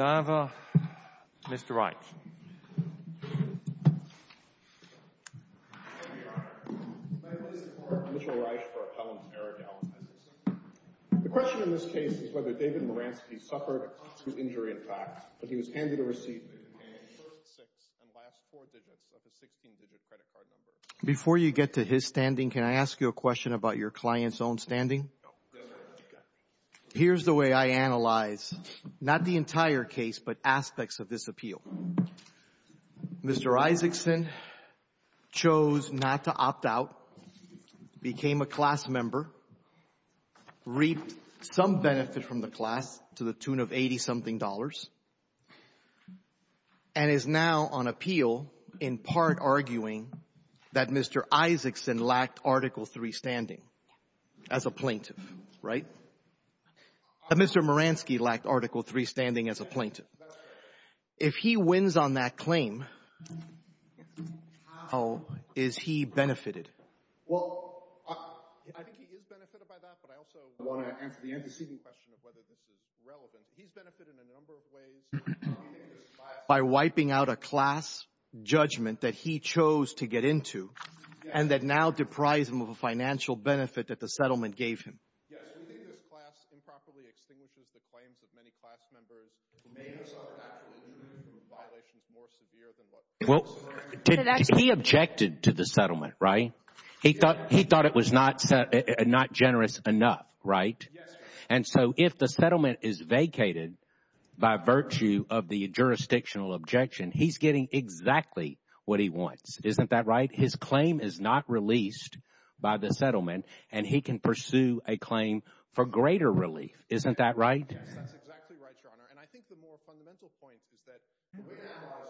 Godiva, Mr. Reich. Thank you, Your Honor. My name is Mark Mitchell-Reich for Appellant Aradel. The question in this case is whether David Moransky suffered a constant injury in fact, but he was handed a receipt in the first six and last four digits of his 16-digit credit card number. Before you get to his standing, can I ask you a question about your client's own standing? No. Here's the way I analyze not the entire case, but aspects of this appeal. Mr. Isaacson chose not to opt out, became a class member, reaped some benefit from the class to the tune of 80-something dollars, and is now on appeal in part arguing that Mr. Isaacson lacked Article III standing as a plaintiff, right? Mr. Moransky lacked Article III standing as a plaintiff. If he wins on that claim, how is he benefited? Well, I think he is benefited by that, but I also want to answer the antecedent question of whether this is relevant. He's benefited in a number of ways by wiping out a class judgment that he chose to get into and that now deprives him of a financial benefit that the settlement gave him. Yes, we think this class improperly extinguishes the claims of many class members who may have suffered actual injury from violations more severe than what was— Well, he objected to the settlement, right? He thought it was not generous enough, right? Yes, sir. And so if the settlement is vacated by virtue of the jurisdictional objection, he's getting exactly what he wants. Isn't that right? His claim is not released by the settlement, and he can pursue a claim for greater relief. Isn't that right? Yes, that's exactly right, Your Honor. And I think the more fundamental point is that we are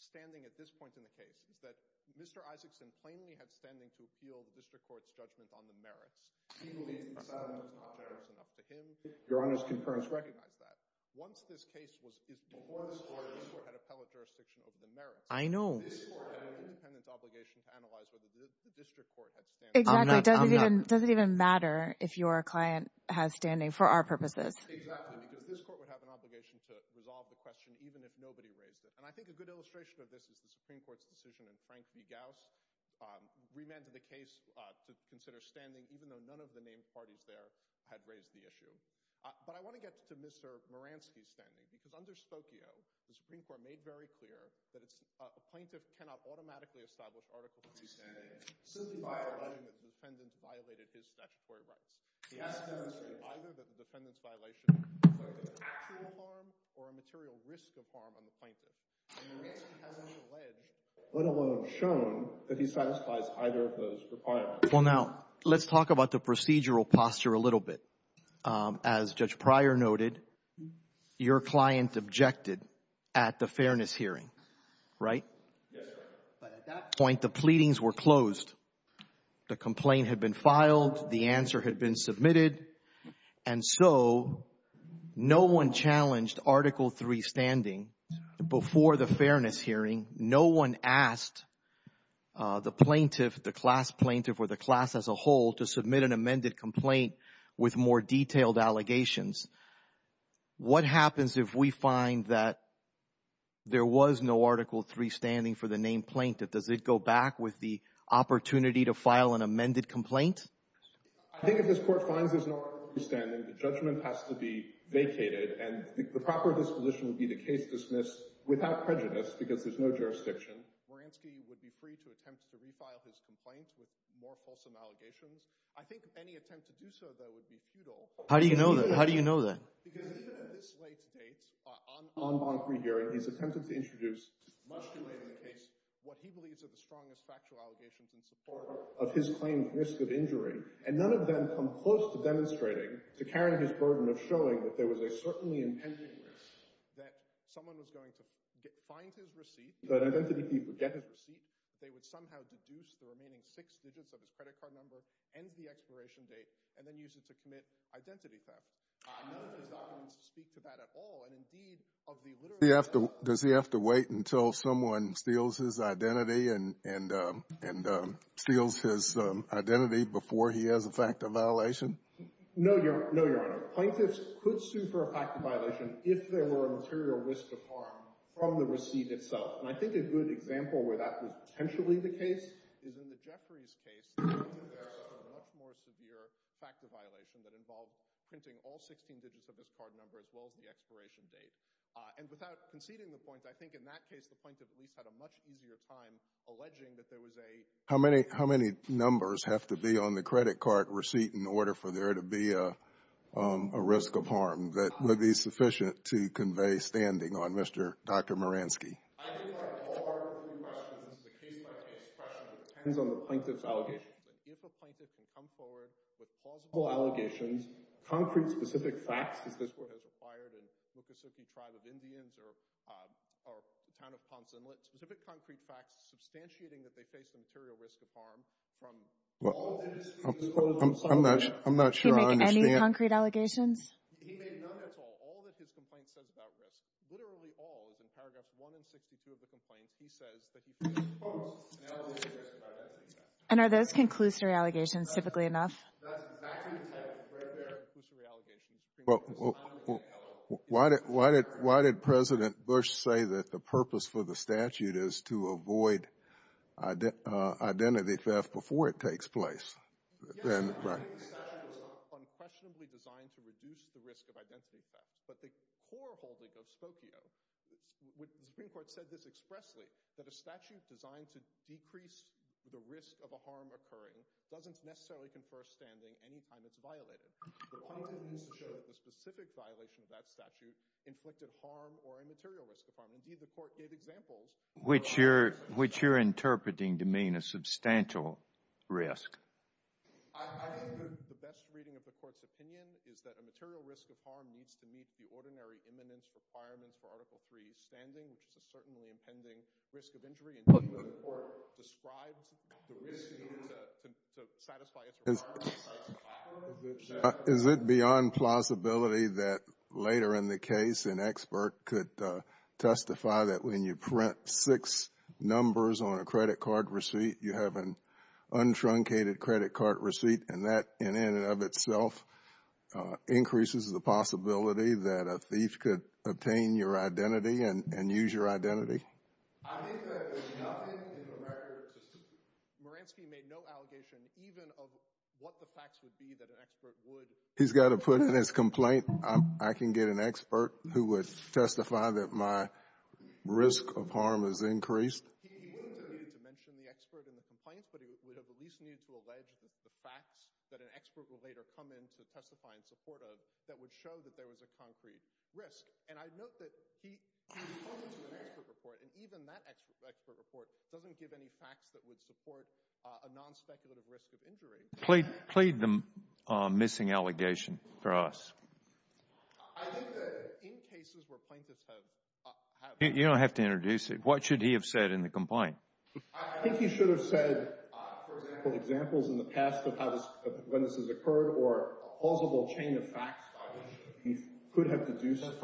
standing at this point in the case, is that Mr. Isaacson plainly had standing to appeal the district court's judgment on the merits. He believes the settlement is not generous enough to him. Your Honor's concurrence recognizes that. Once this case was issued before this court, this court had appellate jurisdiction over the merits. This court had an independent obligation to analyze whether the district court had standing. Exactly. It doesn't even matter if your client has standing for our purposes. Exactly, because this court would have an obligation to resolve the question even if nobody raised it. And I think a good illustration of this is the Supreme Court's decision in Frank v. Gauss which remanded the case to consider standing even though none of the named parties there had raised the issue. But I want to get to Mr. Moransky's standing because under Spokio, the Supreme Court made very clear that a plaintiff cannot automatically establish articles of free standing simply by alleging that the defendant violated his statutory rights. He has to demonstrate either that the defendant's violation included actual harm or a material risk of harm on the plaintiff. And Moransky hasn't alleged, let alone shown, that he satisfies either of those requirements. Well, now, let's talk about the procedural posture a little bit. As Judge Pryor noted, your client objected at the fairness hearing, right? Yes, sir. But at that point, the pleadings were closed. The complaint had been filed. The answer had been submitted. And so no one challenged Article III standing. Before the fairness hearing, no one asked the plaintiff, the class plaintiff or the class as a whole, to submit an amended complaint with more detailed allegations. What happens if we find that there was no Article III standing for the named plaintiff? Does it go back with the opportunity to file an amended complaint? I think if this court finds there's no Article III standing, the judgment has to be vacated, and the proper disposition would be the case dismissed without prejudice because there's no jurisdiction. Moransky would be free to attempt to refile his complaint with more fulsome allegations. I think any attempt to do so, though, would be futile. How do you know that? Because even at this late date, on bond-free hearing, he's attempted to introduce much too late in the case what he believes are the strongest factual allegations in support of his claim of risk of injury, and none of them come close to demonstrating, to carrying his burden of showing that there was a certainly intended risk that someone was going to find his receipt, that identity people get his receipt, they would somehow deduce the remaining six digits of his credit card number, end the expiration date, and then use it to commit identity theft. None of his documents speak to that at all. Does he have to wait until someone steals his identity and steals his identity before he has a fact of violation? No, Your Honor. Plaintiffs could sue for a fact of violation if there were a material risk of harm from the receipt itself. And I think a good example where that was potentially the case is in the Jeffries case. There's a much more severe fact of violation that involved printing all 16 digits of his card number as well as the expiration date. And without conceding the point, I think in that case the plaintiff at least had a much easier time alleging that there was a How many numbers have to be on the credit card receipt in order for there to be a risk of harm that would be sufficient to convey standing on Mr. Dr. Moransky? I think there are a few questions. This is a case-by-case question. It depends on the plaintiff's allegations. If a plaintiff can come forward with plausible allegations, concrete specific facts, as this Court has required in the Mississippi tribe of Indians or the town of Ponce Inlet, specific concrete facts substantiating that they face a material risk of harm from all of the receipts. I'm not sure I understand. Did he make any concrete allegations? He made none at all. All that his complaint says about risk, literally all, is in paragraphs 1 and 62 of the complaint, he says that he posed an allegation of identity theft. And are those conclusory allegations, typically enough? That's exactly the type. Right there are conclusory allegations. Well, why did President Bush say that the purpose for the statute is to avoid identity theft before it takes place? Yes, the statute is unquestionably designed to reduce the risk of identity theft, but the core holding of Spokio, the Supreme Court said this expressly, that a statute designed to decrease the risk of a harm occurring doesn't necessarily confer standing any time it's violated. The plaintiff needs to show that the specific violation of that statute inflicted harm or a material risk of harm. Indeed, the Court gave examples. Which you're interpreting to mean a substantial risk. I think the best reading of the Court's opinion is that a material risk of harm needs to meet the ordinary eminence requirements for Article III standing, which is a certainly impending risk of injury, and the Court described the risk needed to satisfy its requirements. Is it beyond plausibility that later in the case an expert could testify that when you print six numbers on a credit card receipt, you have an untruncated credit card receipt, and that in and of itself increases the possibility that a thief could obtain your identity and use your identity? I think that there's nothing in the record. Moransky made no allegation even of what the facts would be that an expert would. He's got to put in his complaint, I can get an expert who would testify that my risk of harm has increased? He would need to mention the expert in the complaint, but he would have at least needed to allege the facts that an expert would later come in to testify in support of that would show that there was a concrete risk. And I note that he reported to an expert report, and even that expert report doesn't give any facts that would support a nonspeculative risk of injury. Plead the missing allegation for us. You don't have to introduce it. What should he have said in the complaint? For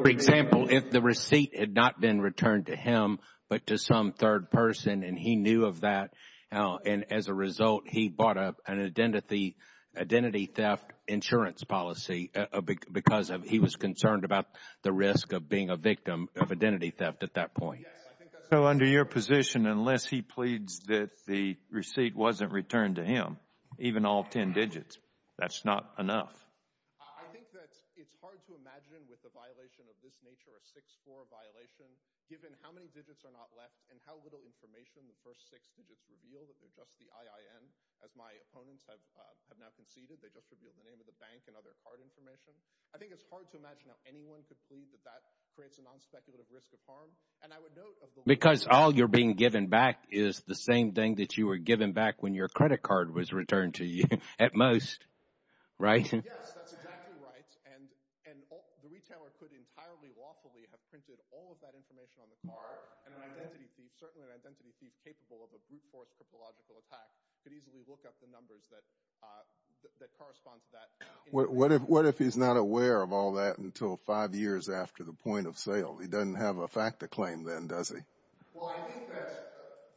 example, if the receipt had not been returned to him, but to some third person and he knew of that, and as a result, he brought up an identity theft insurance policy because he was concerned about the risk of being a victim of identity theft at that point. So under your position, unless he pleads that the receipt wasn't returned to him, even all ten digits, that's not enough? I think that it's hard to imagine with a violation of this nature, a 6-4 violation, given how many digits are not left and how little information the first six digits reveal, that they're just the IIN, as my opponents have now conceded. They just revealed the name of the bank and other card information. I think it's hard to imagine how anyone could plead that that creates a nonspeculative risk of harm. Because all you're being given back is the same thing that you were given back when your credit card was returned to you at most, right? Yes, that's exactly right. And the retailer could entirely lawfully have printed all of that information on the card, and an identity thief, certainly an identity thief capable of a brute force cryptological attack, could easily look up the numbers that correspond to that. What if he's not aware of all that until five years after the point of sale? He doesn't have a fact to claim then, does he? Well, I think that,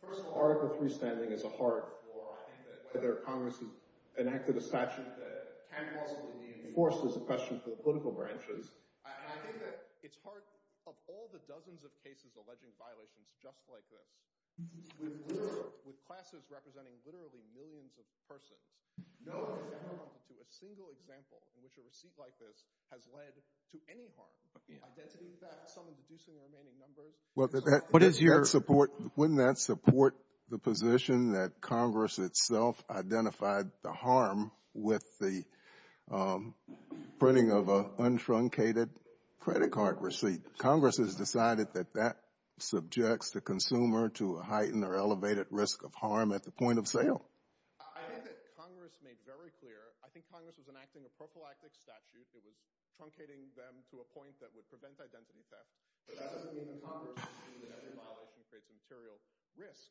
first of all, Article III standing is a hard floor. I think that whether Congress has enacted a statute that can possibly be enforced is a question for the political branches. And I think that it's hard, of all the dozens of cases alleging violations just like this, with classes representing literally millions of persons, no one has ever run into a single example in which a receipt like this has led to any harm. Identity theft, someone deducing the remaining numbers. Wouldn't that support the position that Congress itself identified the harm with the printing of an untruncated credit card receipt? Congress has decided that that subjects the consumer to a heightened or elevated risk of harm at the point of sale. I think that Congress made very clear, I think Congress was enacting a prophylactic statute that was truncating them to a point that would prevent identity theft. But that doesn't mean that Congress is saying that every violation creates material risk.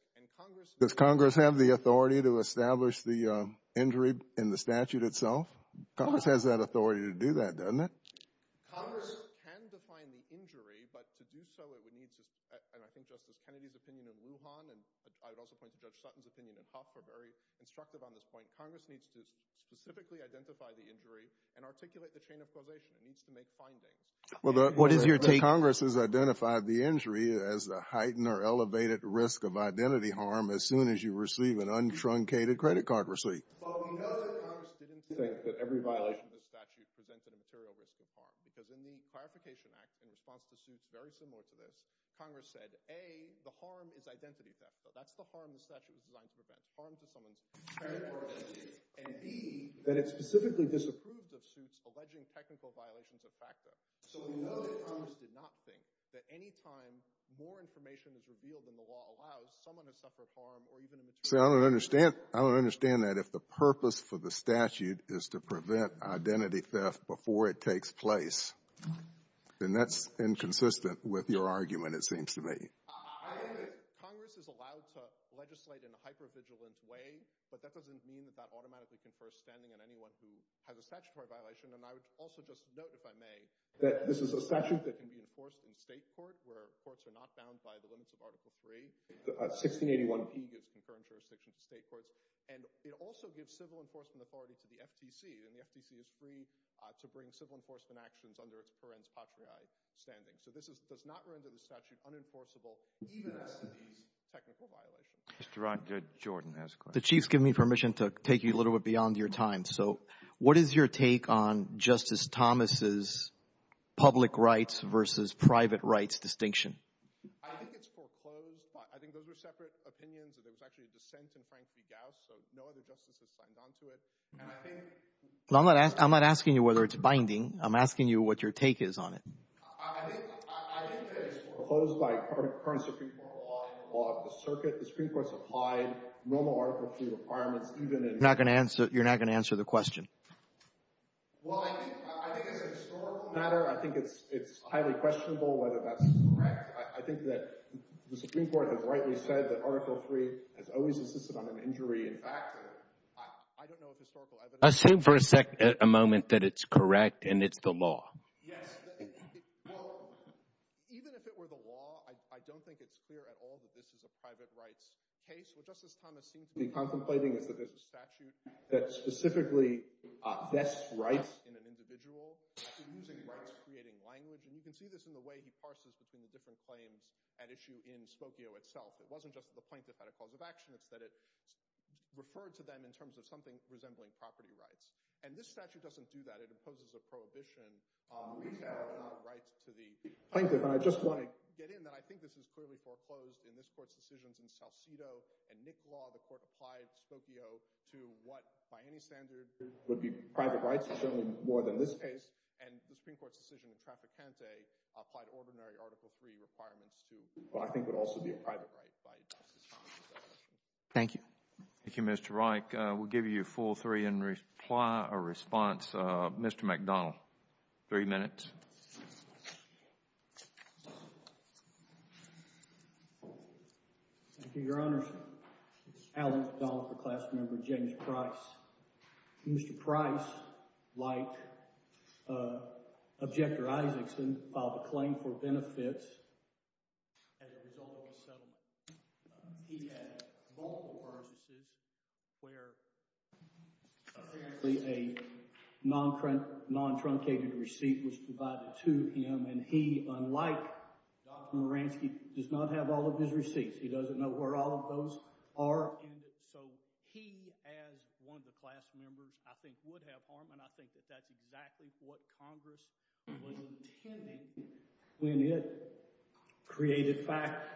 Does Congress have the authority to establish the injury in the statute itself? Congress has that authority to do that, doesn't it? Congress can define the injury, but to do so it would need to, and I think Justice Kennedy's opinion in Lujan and I would also point to Judge Sutton's opinion in Coff are very instructive on this point. Congress needs to specifically identify the injury and articulate the chain of causation. It needs to make findings. Well, Congress has identified the injury as a heightened or elevated risk of identity harm as soon as you receive an untruncated credit card receipt. But we know that Congress didn't think that every violation of the statute presented a material risk of harm because in the Clarification Act, in response to suits very similar to this, Congress said, A, the harm is identity theft. That's the harm the statute was designed to prevent, harm to someone's credit or identity, and B, that it specifically disapproves of suits alleging technical violations of FACTA. So we know that Congress did not think that any time more information is revealed in the law allows someone to suffer harm or even a material risk of harm. I don't understand that. If the purpose for the statute is to prevent identity theft before it takes place, then that's inconsistent with your argument, it seems to me. I agree. Congress is allowed to legislate in a hypervigilant way, but that doesn't mean that that automatically confers standing on anyone who has a statutory violation. And I would also just note, if I may, that this is a statute that can be enforced in state court where courts are not bound by the limits of Article III. 1681P gives concurrent jurisdiction to state courts, and it also gives civil enforcement authority to the FTC, and the FTC is free to bring civil enforcement actions under its parens patriae standing. So this does not render the statute unenforceable even as to these technical violations. The Chief has given me permission to take you a little bit beyond your time. So what is your take on Justice Thomas' public rights versus private rights distinction? I think it's foreclosed. I think those are separate opinions. There was actually a dissent in Frank D. Gauss, so no other justices signed on to it. I'm not asking you whether it's binding. I'm asking you what your take is on it. I think that it's foreclosed by current Supreme Court law and the law of the circuit. The Supreme Court supplied normal Article III requirements even in— You're not going to answer the question? Well, I think it's a historical matter. I think it's highly questionable whether that's correct. I think that the Supreme Court has rightly said that Article III has always insisted on an injury. In fact, I don't know if historical evidence— Assume for a moment that it's correct and it's the law. Yes. Well, even if it were the law, I don't think it's clear at all that this is a private rights case. What Justice Thomas seems to be contemplating is that there's a statute that specifically vests rights in an individual, actually using rights, creating language. And you can see this in the way he parses between the different claims at issue in Spokio itself. It wasn't just that the plaintiff had a cause of action. It's that it referred to them in terms of something resembling property rights. And this statute doesn't do that. It imposes a prohibition on retail rights to the people. Plaintiff, I just want to get in that I think this is clearly foreclosed in this court's decisions in Salcido. In Nick Law, the court applied Spokio to what, by any standard, would be private rights. It's certainly more than this case. And the Supreme Court's decision in Trafficante applied ordinary Article III requirements to what I think would also be a private right by Justice Thomas. Thank you. Thank you, Minister Reich. We'll give you a full three and reply or response. Mr. McDonald, three minutes. Thank you, Your Honors. Alex McDonald for Class Member James Price. Mr. Price, like Objector Isaacson, filed a claim for benefits as a result of the settlement. He had multiple purposes where apparently a non-truncated receipt was provided to him. And he, unlike Dr. Maransky, does not have all of his receipts. He doesn't know where all of those are. So he, as one of the class members, I think would have harm. And I think that that's exactly what Congress was intending when it created facts.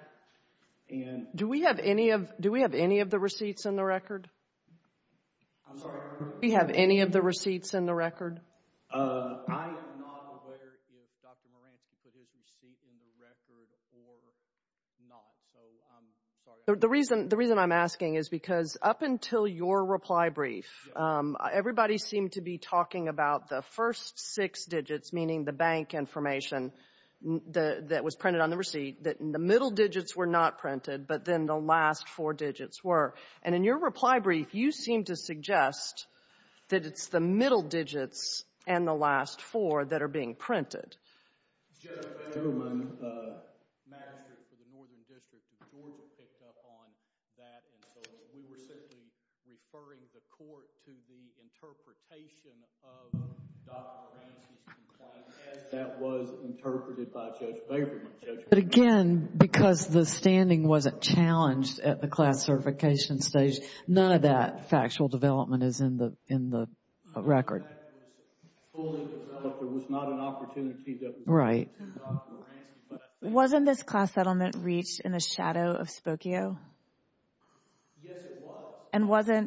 Do we have any of the receipts in the record? I'm sorry? Do we have any of the receipts in the record? I am not aware if Dr. Maransky put his receipt in the record or not. The reason I'm asking is because up until your reply brief, everybody seemed to be talking about the first six digits, meaning the bank information, that was printed on the receipt, that the middle digits were not printed, but then the last four digits were. And in your reply brief, you seem to suggest that it's the middle digits and the last four that are being printed. Judge Baberman, Magistrate for the Northern District of Georgia, picked up on that. And so we were simply referring the Court to the interpretation of Dr. Maransky's complaint as that was interpreted by Judge Baberman. But again, because the standing wasn't challenged at the class certification stage, none of that factual development is in the record. But there was not an opportunity that was given to Dr. Maransky. Wasn't this class settlement reached in the shadow of Spokio? Yes, it was.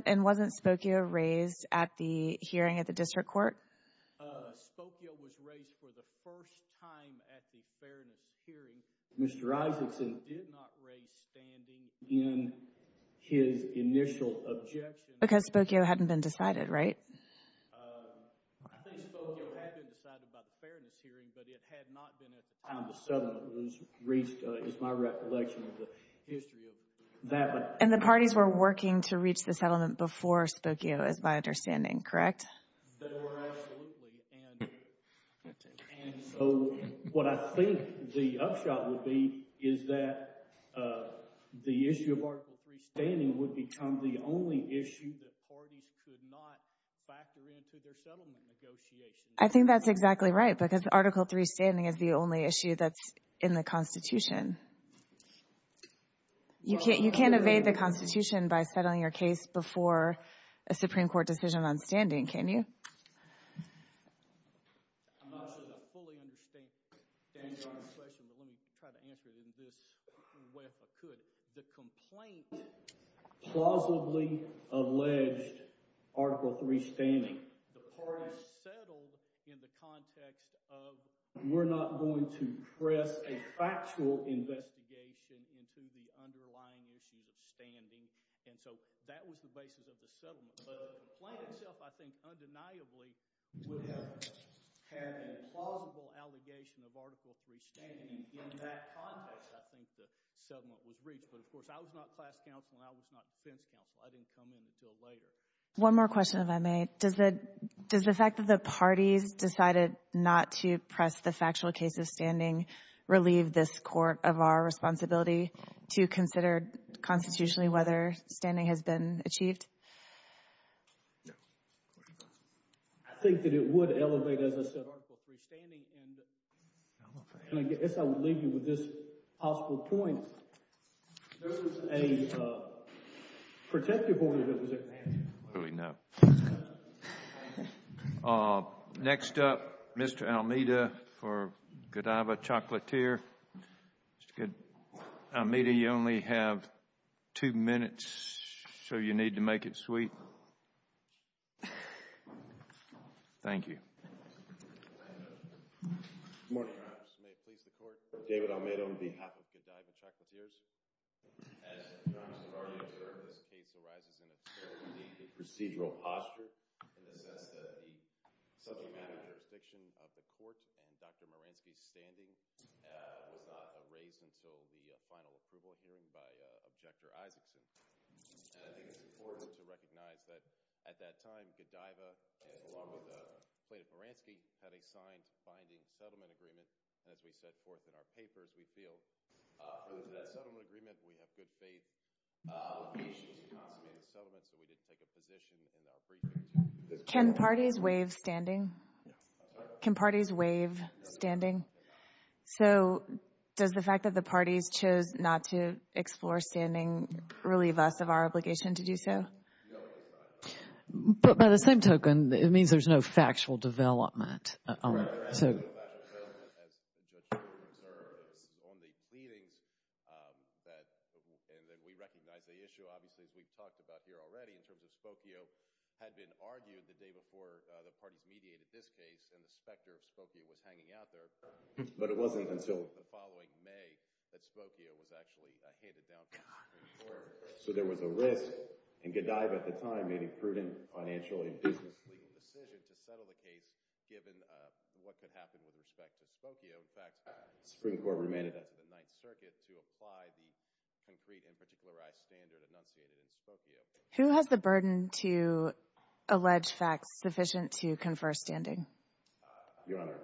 And wasn't Spokio raised at the hearing at the District Court? Spokio was raised for the first time at the fairness hearing. Mr. Isaacson did not raise standing in his initial objection. Because Spokio hadn't been decided, right? I think Spokio had been decided by the fairness hearing, but it had not been at the time the settlement was reached, is my recollection of the history of that. And the parties were working to reach the settlement before Spokio is my understanding, correct? They were, absolutely. And so what I think the upshot would be is that the issue of Article III standing would become the only issue that parties could not factor into their settlement negotiations. I think that's exactly right, because Article III standing is the only issue that's in the Constitution. You can't evade the Constitution by settling your case before a Supreme Court decision on standing, can you? I'm not sure I fully understand the answer to your question, but let me try to answer it in this way if I could. The complaint plausibly alleged Article III standing. The parties settled in the context of We're not going to press a factual investigation into the underlying issue of standing, and so that was the basis of the settlement. But the complaint itself, I think, undeniably would have had a plausible allegation of Article III standing. And in that context, I think the settlement was reached. But, of course, I was not class counsel and I was not defense counsel. I didn't come in until later. One more question, if I may. Does the fact that the parties decided not to press the factual case of standing relieve this Court of our responsibility to consider constitutionally whether standing has been achieved? No. I think that it would elevate, as I said, Article III standing. And I guess I would leave you with this possible point. There was a protective order that was in place. No. Next up, Mr. Almeida for Godiva Chocolatier. Mr. Almeida, you only have two minutes, so you need to make it sweet. Thank you. Can parties waive standing? Can parties waive standing? So does the fact that the parties chose not to explore standing relieve us of our obligation to do so? No. But by the same token, it means there's no factual development. All right. God. But it wasn't until the following May that Spokio was actually handed down to the Supreme Court. So there was a risk, and Godiva at the time made a prudent financial and business-leading decision to settle the case given what could happen with respect to Spokio. In fact, the Supreme Court remained in the Ninth Circuit to apply the concrete and particularized standard enunciated in Spokio. Who has the burden to allege facts sufficient to confer standing? Your Honor,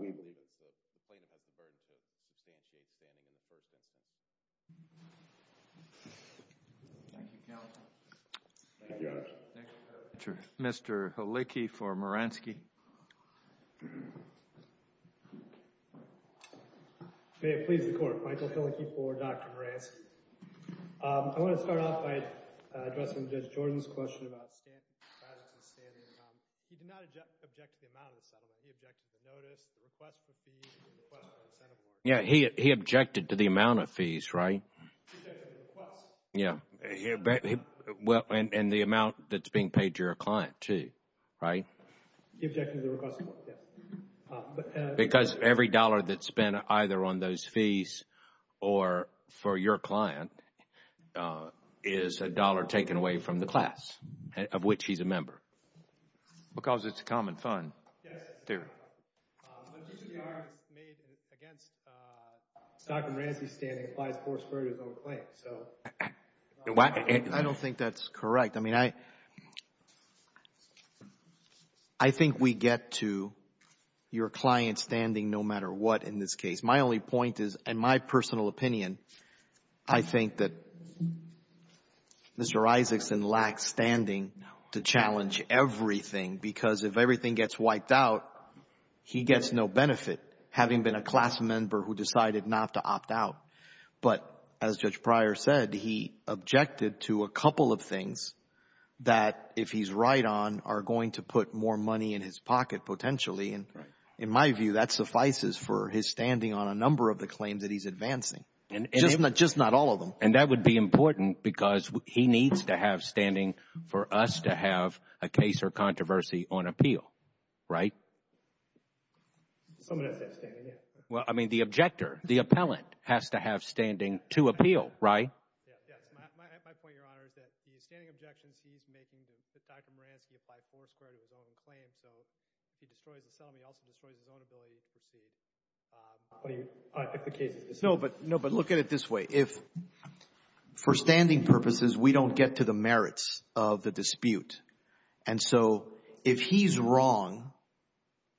we believe that the plaintiff has the burden to substantiate standing in the first instance. Thank you, counsel. Thank you, Your Honor. Mr. Helicki for Moransky. May it please the Court. Michael Helicki for Dr. Moransky. I want to start off by addressing Judge Jordan's question about standards and standards. He did not object to the amount of the settlement. He objected to the notice, the request for fees, and the request for incentive. Yeah, he objected to the amount of fees, right? He objected to the request. Yeah. Well, and the amount that's being paid to your client, too, right? He objected to the request, yeah. Because every dollar that's spent either on those fees or for your client is a dollar taken away from the class, of which he's a member. Because it's a common fund. Yes. The argument made against Dr. Moransky's standing applies more squarely to his own claim. I don't think that's correct. I mean, I think we get to your client's standing no matter what in this case. My only point is, in my personal opinion, I think that Mr. Isaacson lacks standing to challenge everything. Because if everything gets wiped out, he gets no benefit, having been a class member who decided not to opt out. But as Judge Pryor said, he objected to a couple of things that, if he's right on, are going to put more money in his pocket potentially. And in my view, that suffices for his standing on a number of the claims that he's advancing, just not all of them. And that would be important because he needs to have standing for us to have a case or controversy on appeal, right? Someone has to have standing, yeah. Well, I mean, the objector, the appellant, has to have standing to appeal, right? Yes. My point, Your Honor, is that the standing objections he's making to Dr. Moransky apply foursquare to his own claim. So he destroys the settlement. He also destroys his own ability to proceed. No, but look at it this way. For standing purposes, we don't get to the merits of the dispute. And so if he's wrong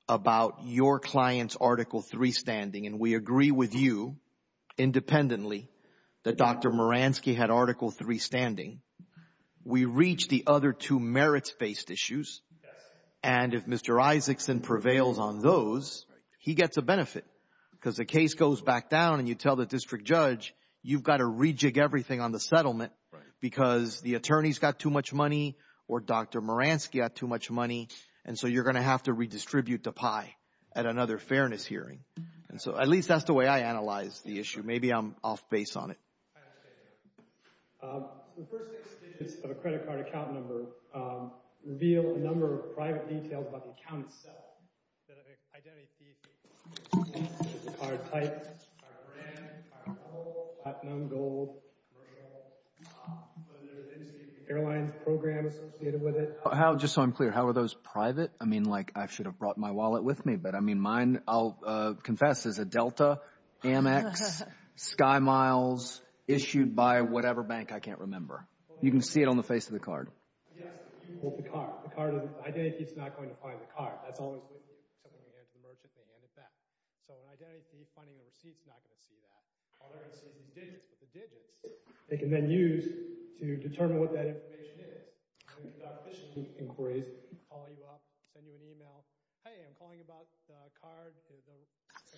about your client's Article III standing, and we agree with you independently that Dr. Moransky had Article III standing, we reach the other two merits-based issues. And if Mr. Isaacson prevails on those, he gets a benefit because the case goes back down and you tell the district judge you've got to rejig everything on the settlement because the attorney's got too much money or Dr. Moransky got too much money, and so you're going to have to redistribute the pie at another fairness hearing. And so at least that's the way I analyze the issue. Maybe I'm off base on it. The first six digits of a credit card account number reveal a number of private details about the account itself. The card types are brand, car model, platinum, gold, commercial. Are there any airlines programs associated with it? Just so I'm clear, how are those private? I mean, like, I should have brought my wallet with me, but I mean, mine, I'll confess, is a Delta, Amex, SkyMiles, issued by whatever bank. I can't remember. You can see it on the face of the card. Yes, you hold the card. The identity is not going to find the card. That's always with you. So when you hand it to the merchant, they hand it back. So an identity, finding a receipt, is not going to see that. All they're going to see is these digits. But the digits, they can then use to determine what that information is. When you've got official inquiries, they can call you up, send you an email. Hey, I'm calling about the card.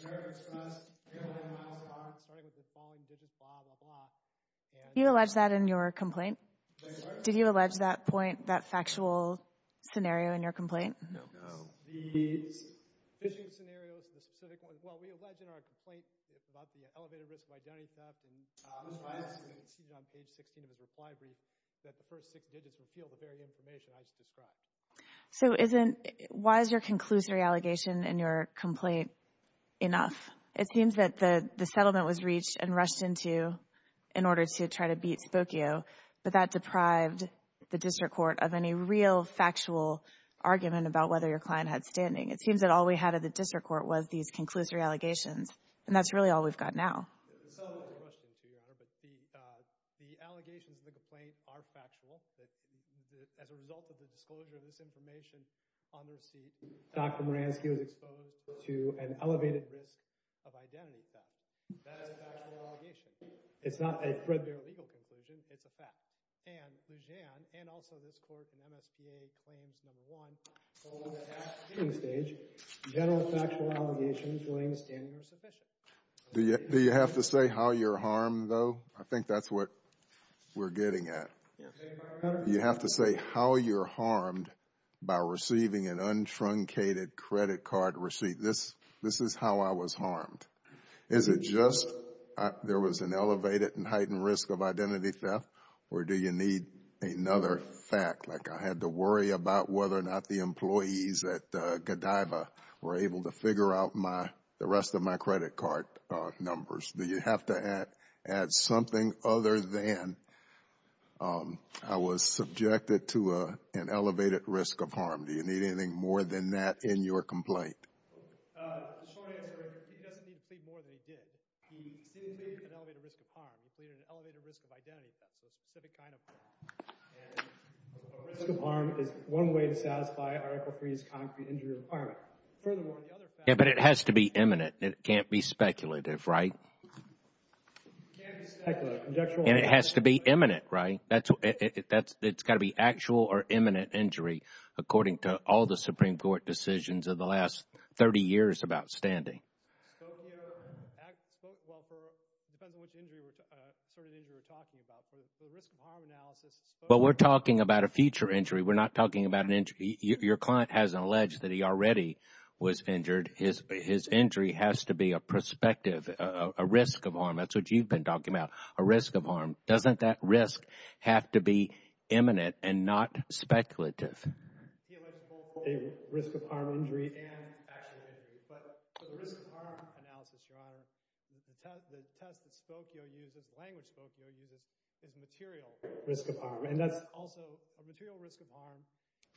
American Express, airline miles card. Starting with the following digits, blah, blah, blah. Did you allege that in your complaint? Did you allege that point, that factual scenario in your complaint? No. The fishing scenarios, the specific ones. Well, we allege in our complaint about the elevated risk of identity theft. It's on page 16 of the reply brief that the first six digits reveal the very information I just described. So why is your conclusory allegation in your complaint enough? It seems that the settlement was reached and rushed into in order to try to beat Spokio. But that deprived the district court of any real factual argument about whether your client had standing. It seems that all we had at the district court was these conclusory allegations. And that's really all we've got now. The settlement was rushed into, Your Honor, but the allegations in the complaint are factual. As a result of the disclosure of this information on the receipt, Dr. Moransky was exposed to an elevated risk of identity theft. That is a factual allegation. It's not a threadbare legal conclusion. It's a fact. And Lujan and also this court and MSPA claims, number one, that at the hearing stage, general factual allegations weighing standing are sufficient. Do you have to say how you're harmed, though? I think that's what we're getting at. Do you have to say how you're harmed by receiving an untruncated credit card receipt? This is how I was harmed. Is it just there was an elevated and heightened risk of identity theft? Or do you need another fact, like I had to worry about whether or not the employees at Godiva were able to figure out the rest of my credit card numbers? Do you have to add something other than I was subjected to an elevated risk of harm? Do you need anything more than that in your complaint? The short answer is he doesn't need to plead more than he did. He seemingly had an elevated risk of harm. He pleaded an elevated risk of identity theft, so a specific kind of harm. And a risk of harm is one way to satisfy Article III's concrete injury requirement. Furthermore, the other fact is Yeah, but it has to be imminent. It can't be speculative, right? It can't be speculative. And it has to be imminent, right? It's got to be actual or imminent injury, according to all the Supreme Court decisions of the last 30 years about standing. But we're talking about a future injury. We're not talking about an injury. Your client has alleged that he already was injured. His injury has to be a perspective, a risk of harm. Doesn't that risk have to be imminent and not speculative? He alleged both a risk of harm injury and actual injury. But for the risk of harm analysis, Your Honor, the test that Spokio uses, the language Spokio uses, is material risk of harm. And that's also a material risk of harm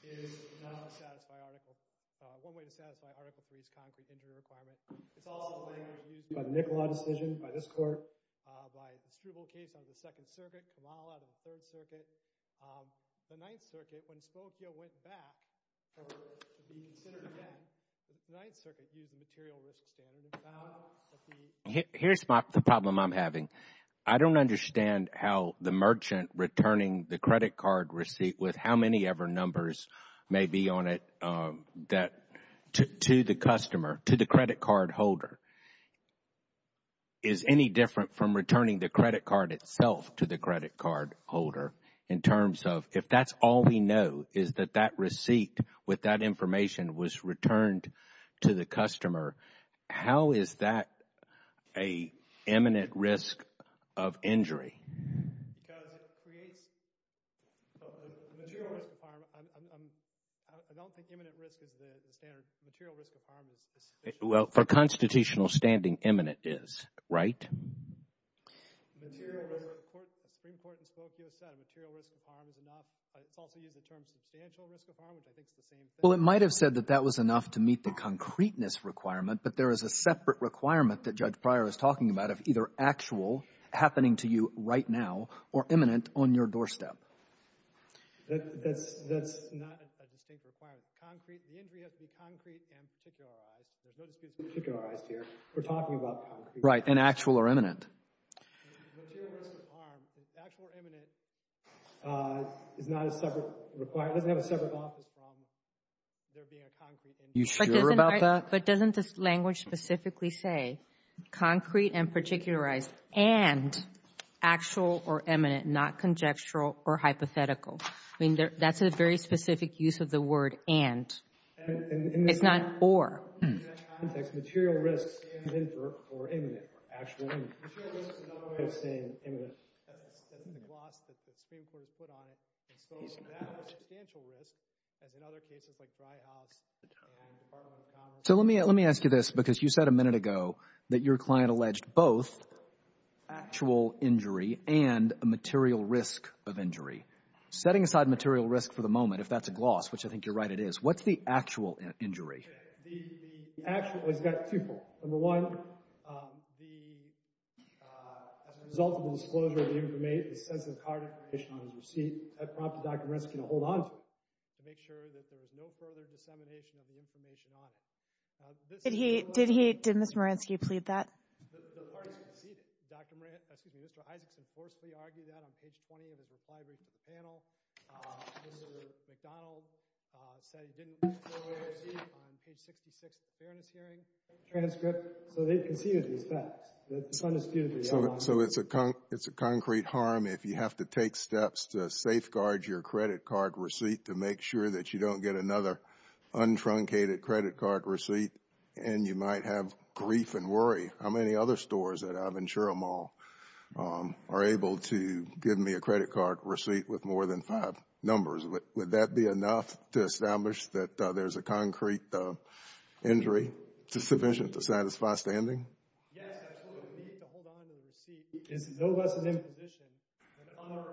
is one way to satisfy Article III's concrete injury requirement. It's also the language used by the NICOLA decision, by this Court, by a distributable case under the Second Circuit, Kamala, the Third Circuit. The Ninth Circuit, when Spokio went back, the Ninth Circuit used the material risk standard. Here's the problem I'm having. I don't understand how the merchant returning the credit card receipt with how many ever numbers may be on it to the customer, to the credit card holder. Is any different from returning the credit card itself to the credit card holder in terms of, if that's all we know is that that receipt with that information was returned to the customer, how is that an imminent risk of injury? Because it creates a material risk of harm. I don't think imminent risk is the standard. Material risk of harm is sufficient. Well, for constitutional standing, imminent is, right? The Supreme Court in Spokio said a material risk of harm is enough. It's also used the term substantial risk of harm, which I think is the same thing. Well, it might have said that that was enough to meet the concreteness requirement, but there is a separate requirement that Judge Pryor was talking about of either actual, happening to you right now, or imminent on your doorstep. That's not a distinct requirement. Concrete, the injury has to be concrete and particularized. There's no dispute it's particularized here. We're talking about concrete. Right, and actual or imminent. Material risk of harm, actual or imminent, is not a separate requirement. It doesn't have a separate office from there being a concrete injury. You sure about that? But doesn't this language specifically say concrete and particularized and actual or imminent, not conjectural or hypothetical? I mean, that's a very specific use of the word and. It's not or. In that context, material risk stands in for or imminent or actual or imminent. Material risk is another way of saying imminent. That's the gloss that the Supreme Court has put on it, and so that's substantial risk as in other cases like Dry House and Department of Commerce. So let me ask you this because you said a minute ago that your client alleged both actual injury and a material risk of injury. Setting aside material risk for the moment, if that's a gloss, which I think you're right it is, what's the actual injury? The actual has got two parts. Number one, as a result of the disclosure of the census card information on his receipt, that prompted Dr. Maransky to hold onto it to make sure that there was no further dissemination of the information on it. Did he, did Ms. Maransky plead that? The parties conceded. Dr. Maransky, excuse me, Mr. Isaacson forcibly argued that on page 20 of his reply to the panel. Mr. McDonald said he didn't want the receipt on page 66 of the fairness hearing transcript. So they conceded these facts. So it's a concrete harm if you have to take steps to safeguard your credit card receipt to make sure that you don't get another untruncated credit card receipt and you might have grief and worry. How many other stores at Aventura Mall are able to give me a credit card receipt with more than five numbers? Would that be enough to establish that there's a concrete injury sufficient to satisfy standing? Yes, absolutely. We need to hold onto the receipt. It's no less an imposition than other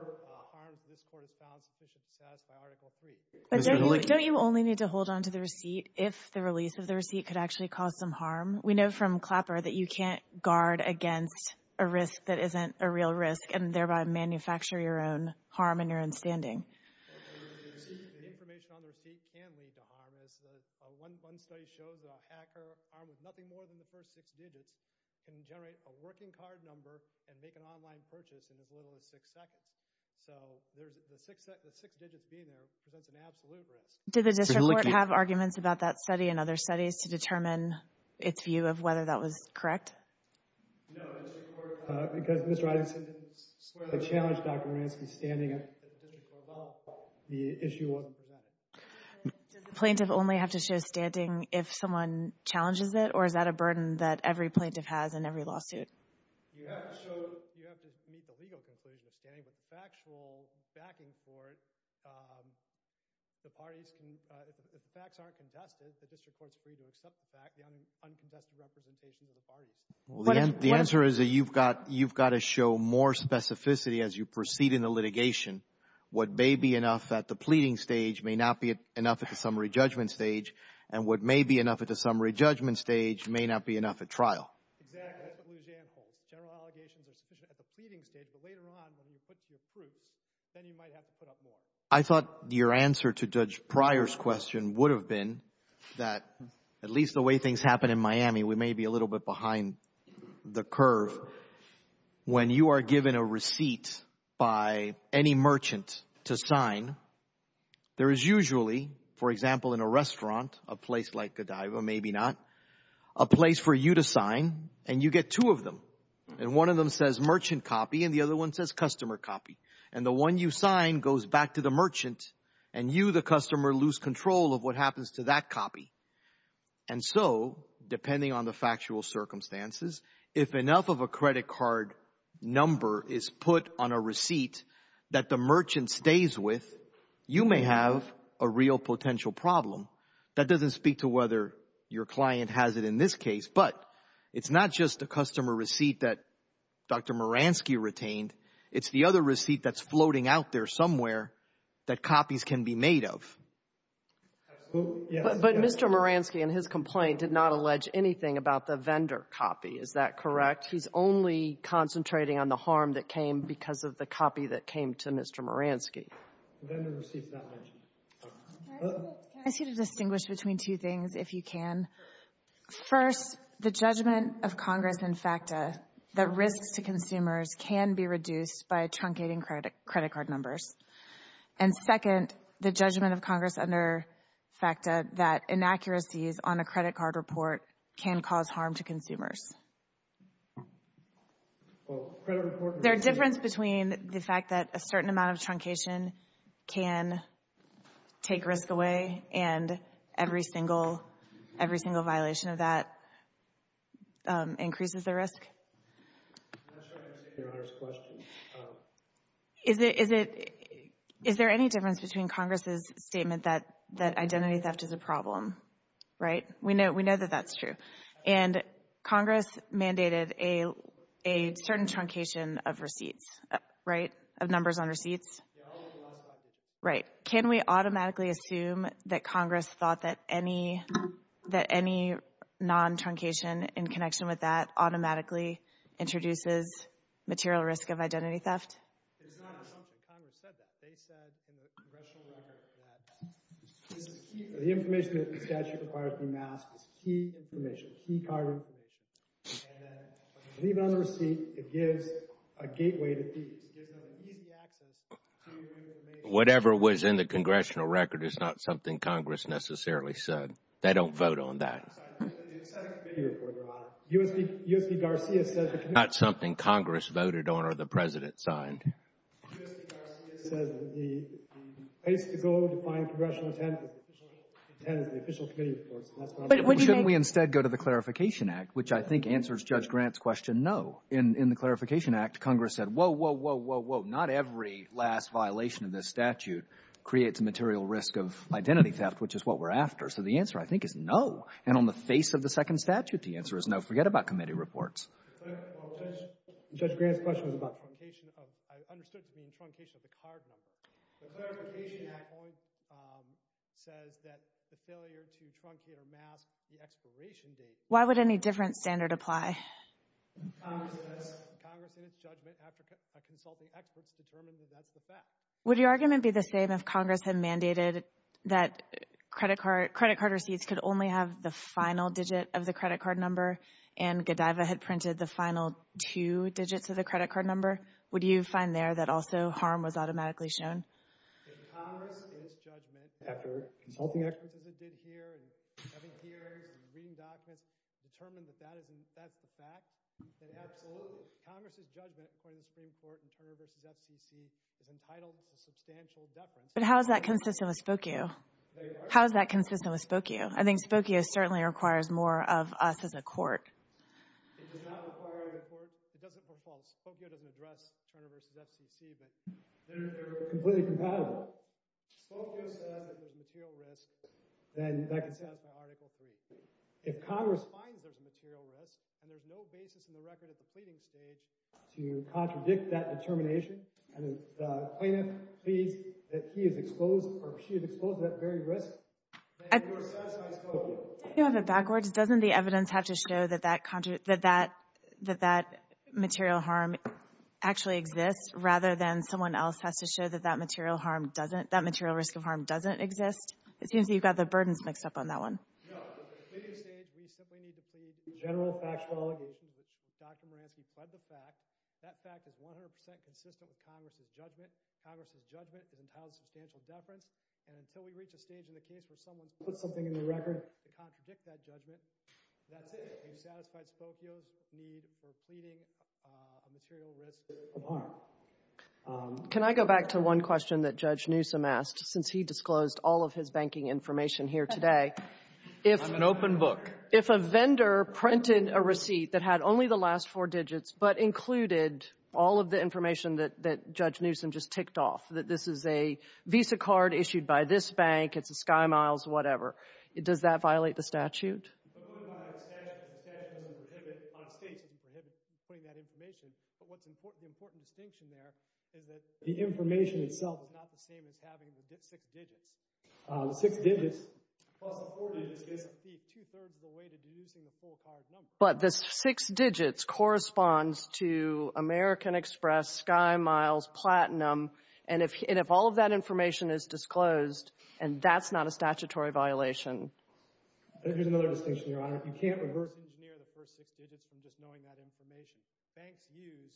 harms this court has found sufficient to satisfy Article III. But don't you only need to hold onto the receipt if the release of the receipt could actually cause some harm? We know from Clapper that you can't guard against a risk that isn't a real risk and thereby manufacture your own harm in your own standing. The information on the receipt can lead to harm. One study shows a hacker armed with nothing more than the first six digits can generate a working card number and make an online purchase in as little as six seconds. So the six digits being there presents an absolute risk. Did the district court have arguments about that study and other studies to determine its view of whether that was correct? No, the district court, because Ms. Roddickson didn't swear to challenge Dr. Moransky's standing at the district court, the issue wasn't presented. Does the plaintiff only have to show standing if someone challenges it or is that a burden that every plaintiff has in every lawsuit? You have to meet the legal conclusion of standing, but the factual backing for it, the parties can, if the facts aren't contested, the district court's free to accept the fact, the uncontested representation of the parties. The answer is that you've got to show more specificity as you proceed in the litigation. What may be enough at the pleading stage may not be enough at the summary judgment stage, and what may be enough at the summary judgment stage may not be enough at trial. Exactly. That's what Lujan holds. General allegations are sufficient at the pleading stage, but later on when you put to your proofs, then you might have to put up more. I thought your answer to Judge Pryor's question would have been that at least the way things happen in Miami, we may be a little bit behind the curve. When you are given a receipt by any merchant to sign, there is usually, for example, in a restaurant, a place like Godiva, maybe not, a place for you to sign, and you get two of them, and one of them says merchant copy and the other one says customer copy, and the one you sign goes back to the merchant and you, the customer, lose control of what happens to that copy. And so, depending on the factual circumstances, if enough of a credit card number is put on a receipt that the merchant stays with, you may have a real potential problem. That doesn't speak to whether your client has it in this case, but it's not just a customer receipt that Dr. Moransky retained. It's the other receipt that's floating out there somewhere that copies can be made of. But Mr. Moransky in his complaint did not allege anything about the vendor copy. Is that correct? He's only concentrating on the harm that came because of the copy that came to Mr. Moransky. The vendor receipt is not mentioned. Can I ask you to distinguish between two things, if you can? First, the judgment of Congress under FACTA that risks to consumers can be reduced by truncating credit card numbers. And second, the judgment of Congress under FACTA that inaccuracies on a credit card report can cause harm to consumers. There's a difference between the fact that a certain amount of truncation can take risk away and every single violation of that increases the risk? I'm not sure I understand Your Honor's question. Is there any difference between Congress's statement that identity theft is a problem? Right? We know that that's true. And Congress mandated a certain truncation of receipts, right? Of numbers on receipts? Right. Can we automatically assume that Congress thought that any non-truncation in connection with that automatically introduces material risk of identity theft? It's not an assumption. Congress said that. This is key. The information that the statute requires to be masked is key information, key card information. And then when you leave it on the receipt, it gives a gateway to fees. It gives them an easy access to your information. Whatever was in the Congressional record is not something Congress necessarily said. They don't vote on that. I'm sorry. The executive committee report, Your Honor. U.S.P. Garcia said that. It's not something Congress voted on or the President signed. U.S.P. Garcia said that the place to go to find Congressional intent is the official committee reports. Shouldn't we instead go to the Clarification Act, which I think answers Judge Grant's question, no. In the Clarification Act, Congress said, whoa, whoa, whoa, whoa, whoa. Not every last violation of this statute creates a material risk of identity theft, which is what we're after. So the answer, I think, is no. And on the face of the second statute, the answer is no. Forget about committee reports. Judge Grant's question was about truncation. I understood it being truncation of the card number. The Clarification Act point says that the failure to truncate or mask the expiration date. Why would any different standard apply? Congress in its judgment after consulting experts determined that that's the fact. Would your argument be the same if Congress had mandated that credit card receipts could only have the final digit of the credit card number and Godiva had printed the final two digits of the credit card number? Would you find there that also harm was automatically shown? If Congress in its judgment after consulting experts as it did here and having hearings and reading documents determined that that's the fact, then absolutely. Congress's judgment, according to the Supreme Court in Turner v. FCC, is entitled to substantial deference. But how is that consistent with Spokio? How is that consistent with Spokio? I think Spokio certainly requires more of us as a court. It does not require a court. It doesn't perform. Spokio doesn't address Turner v. FCC, but they're completely compatible. Spokio says that there's material risk, then that can satisfy Article III. If Congress finds there's a material risk and there's no basis in the record at the pleading stage to contradict that determination, and the plaintiff pleads that he is exposed or she is exposed to that very risk, then you are satisfied Spokio. If you have it backwards, doesn't the evidence have to show that that material harm actually exists rather than someone else has to show that that material risk of harm doesn't exist? It seems that you've got the burdens mixed up on that one. No. At the pleading stage, we simply need to plead the general factual allegations, which Dr. Moransky pled the fact. That fact is 100 percent consistent with Congress's judgment. Congress's judgment has imposed substantial deference, and until we reach a stage in the case where someone puts something in the record to contradict that judgment, that's it. You've satisfied Spokio's need for pleading a material risk of harm. Can I go back to one question that Judge Newsom asked? Since he disclosed all of his banking information here today. I'm an open book. If a vendor printed a receipt that had only the last four digits, but included all of the information that Judge Newsom just ticked off, that this is a Visa card issued by this bank, it's a SkyMiles, whatever, does that violate the statute? The statute doesn't prohibit, states don't prohibit putting that information, but what's the important distinction there is that the information itself is not the same as having the six digits. The six digits plus the four digits gives us two-thirds of the way to deducing the full card number. But the six digits corresponds to American Express, SkyMiles, Platinum, and if all of that information is disclosed, that's not a statutory violation. Here's another distinction, Your Honor. You can't reverse engineer the first six digits from just knowing that information. Banks use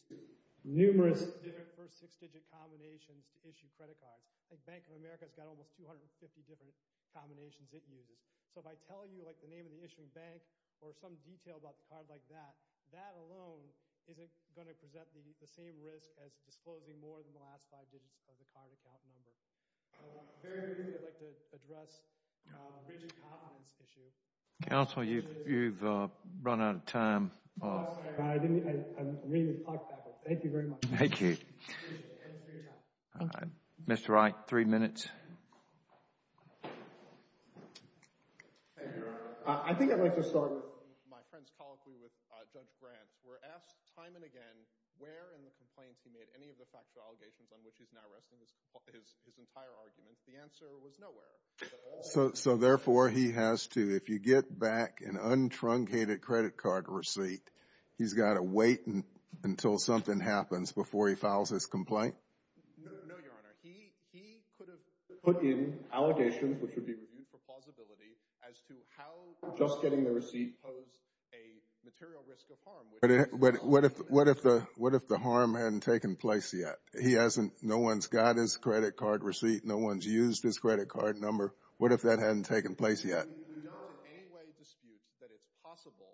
numerous different first six-digit combinations to issue credit cards. The Bank of America has got almost 250 different combinations it uses. So by telling you, like, the name of the issuing bank or some detail about the card like that, that alone isn't going to present the same risk as disclosing more than the last five digits of the card account number. Very briefly, I'd like to address the rigid confidence issue. Counsel, you've run out of time. Oh, I'm sorry. I didn't really talk that much. Thank you very much. Thank you. Thank you for your time. Mr. Wright, three minutes. Thank you, Your Honor. I think I'd like to start with my friend's colloquy with Judge Grant. We're asked time and again where in the complaints he made, any of the factual allegations on which he's now resting his entire argument, the answer was nowhere. So therefore, he has to, if you get back an untruncated credit card receipt, he's got to wait until something happens before he files his complaint? No, Your Honor. He could have put in allegations which would be reviewed for plausibility as to how just getting the receipt posed a material risk of harm. What if the harm hadn't taken place yet? No one's got his credit card receipt. No one's used his credit card number. What if that hadn't taken place yet? We don't in any way dispute that it's possible,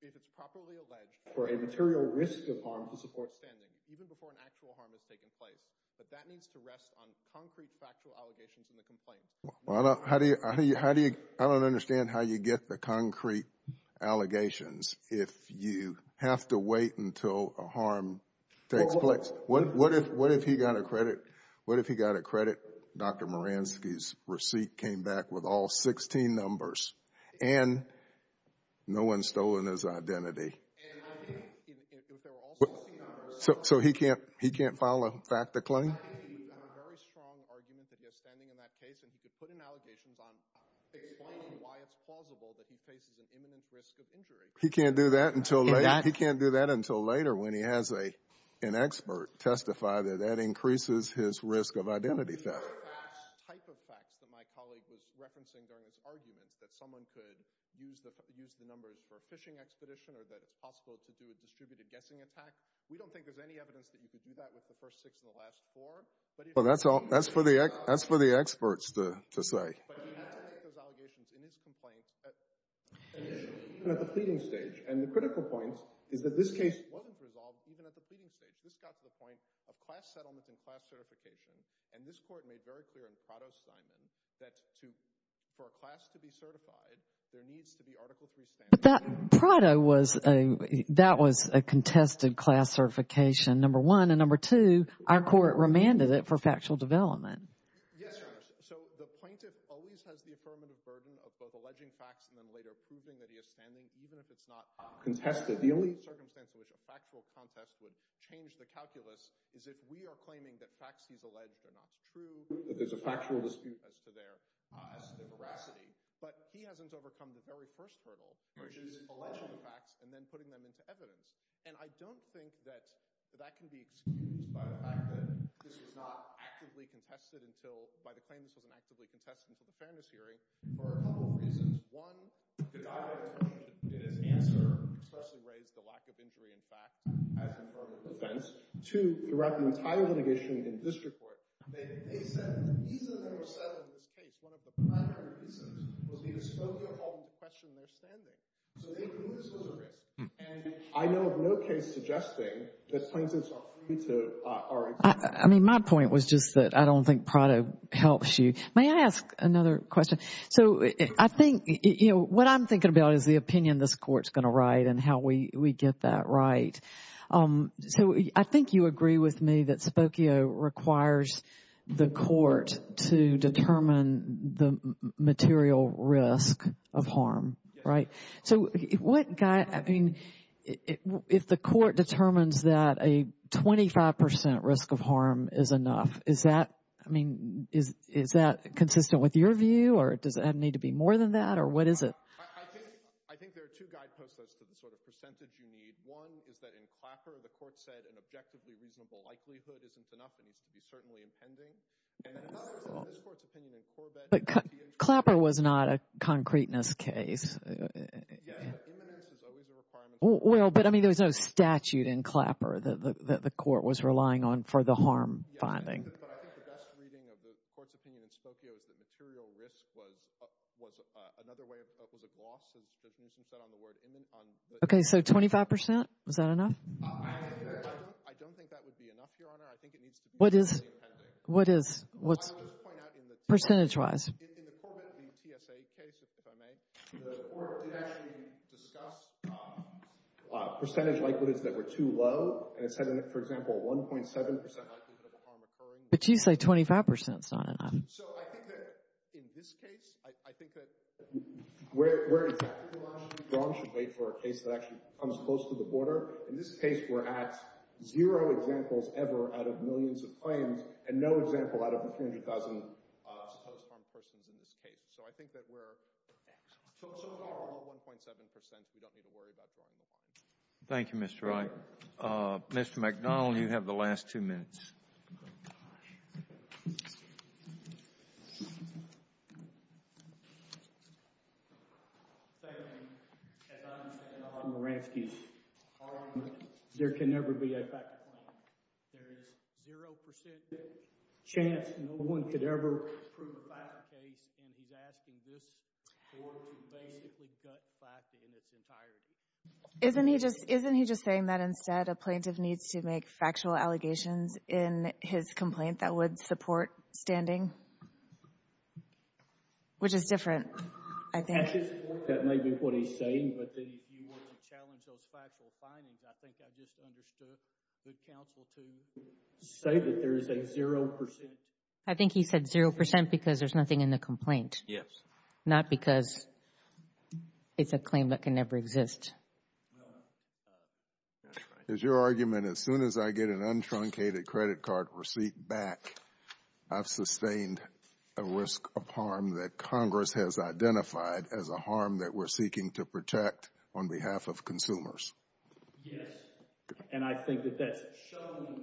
if it's properly alleged, for a material risk of harm to support standing, even before an actual harm has taken place. But that needs to rest on concrete factual allegations in the complaint. Well, I don't understand how you get the concrete allegations if you have to wait until a harm takes place. What if he got a credit? What if he got a credit, Dr. Moransky's receipt came back with all 16 numbers, and no one's stolen his identity? And I think if there were all 16 numbers— So he can't file a fact to claim? —a very strong argument that he has standing in that case, and he could put in allegations on explaining why it's plausible that he faces an imminent risk of injury. He can't do that until later when he has an expert testify that that increases his risk of identity theft. The type of facts that my colleague was referencing during his arguments, that someone could use the numbers for a fishing expedition or that it's possible to do a distributed guessing attack, we don't think there's any evidence that you could do that with the first six and the last four. Well, that's for the experts to say. But he has to make those allegations in his complaint, even at the pleading stage. And the critical point is that this case wasn't resolved even at the pleading stage. This got to the point of class settlement and class certification, and this Court made very clear in Prado-Steinman that for a class to be certified, there needs to be Article III standards. But Prado, that was a contested class certification, number one. And number two, our Court remanded it for factual development. Yes, Your Honor. So the plaintiff always has the affirmative burden of both alleging facts and then later proving that he is standing, even if it's not contested. The only circumstance in which a factual contest would change the calculus is if we are claiming that facts he's alleged are not true, that there's a factual dispute as to their veracity. But he hasn't overcome the very first hurdle, which is alleging the facts and then putting them into evidence. And I don't think that that can be excused by the fact that this was not actively contested until by the claim this was an actively contested public fairness hearing for a couple of reasons. One, the guidance in his answer especially raised the lack of injury in fact as inferred with defense. Two, throughout the entire litigation in district court, they said the reason they were settled in this case, one of the primary reasons, was because Spokio called the question they're standing. So they knew this was a risk. And I know of no case suggesting that plaintiffs are free to argue. I mean, my point was just that I don't think Prado helps you. May I ask another question? So I think, you know, what I'm thinking about is the opinion this Court's going to write and how we get that right. So I think you agree with me that Spokio requires the Court to determine the material risk of harm, right? Yes. So what guide, I mean, if the Court determines that a 25% risk of harm is enough, is that, I mean, is that consistent with your view or does it need to be more than that or what is it? I think there are two guideposts to the sort of percentage you need. One is that in Clapper, the Court said an objectively reasonable likelihood isn't enough. It needs to be certainly impending. And another is in this Court's opinion in Corbett. But Clapper was not a concreteness case. Yes, but imminence is always a requirement. Well, but, I mean, there was no statute in Clapper that the Court was relying on for the harm finding. But I think the best reading of the Court's opinion in Spokio is that material risk was another way of, was a gloss, as you said, on the word imminent. Okay, so 25%, is that enough? I don't think that would be enough, Your Honor. I think it needs to be certainly impending. What is, what's, percentage-wise? In the Corbett v. TSA case, if I may, the Court did actually discuss percentage likelihoods that were too low. And it said, for example, 1.7% likelihood of a harm occurring. But you say 25% is not enough. So I think that in this case, I think that where exactly we should wait for a case that actually comes close to the border, in this case, we're at zero examples ever out of millions of claims and no example out of the 300,000 supposed harmed persons in this case. So I think that we're excellent. So far, we're at 1.7%. We don't need to worry about drawing more. Thank you, Mr. Wright. Mr. McDonnell, you have the last two minutes. Thank you. As I understand it, a lot of Moravskis are harmed. There can never be a fact claim. There is 0% chance no one could ever prove a fact case. And he's asking this Court to basically gut fact in its entirety. Isn't he just saying that instead a plaintiff needs to make factual allegations in his complaint that would support standing? Which is different, I think. That may be what he's saying, but if you were to challenge those factual findings, I think I just understood the counsel to say that there is a 0% chance. I think he said 0% because there's nothing in the complaint. Yes. Not because it's a claim that can never exist. No, that's right. Is your argument as soon as I get an untruncated credit card receipt back, I've sustained a risk of harm that Congress has identified as a harm that we're seeking to protect on behalf of consumers? Yes. And I think that that's shown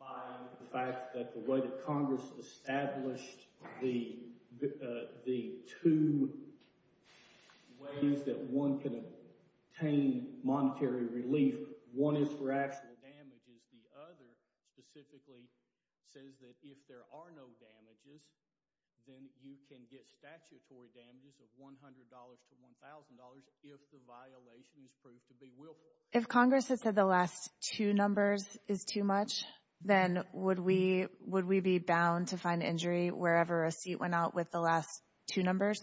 by the fact that the way that Congress established the two ways that one can obtain monetary relief, one is for actual damages. The other specifically says that if there are no damages, then you can get statutory damages of $100 to $1,000 if the violation is proved to be willful. If Congress has said the last two numbers is too much, then would we be bound to find injury wherever a receipt went out with the last two numbers?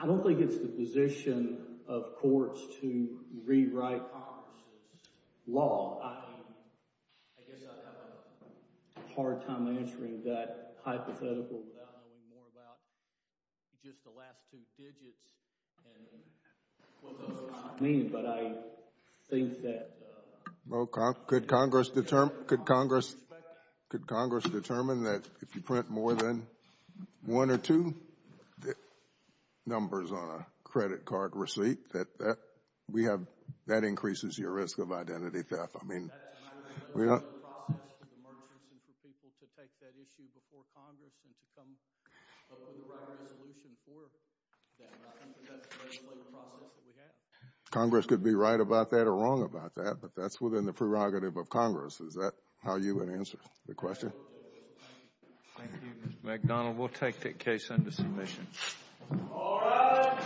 I don't think it's the position of courts to rewrite Congress's law. I guess I'd have a hard time answering that hypothetical without knowing more about just the last two digits and what those numbers mean. But I think that— Could Congress determine that if you print more than one or two numbers on a credit card receipt that that increases your risk of identity theft? I mean— That might be part of the process for the merchants and for people to take that issue before Congress and to come up with the right resolution for that. I think that's basically the process that we have. Congress could be right about that or wrong about that, but that's within the prerogative of Congress. Is that how you would answer the question? Thank you, Mr. McDonald. We'll take that case under submission. All rise. Thank you.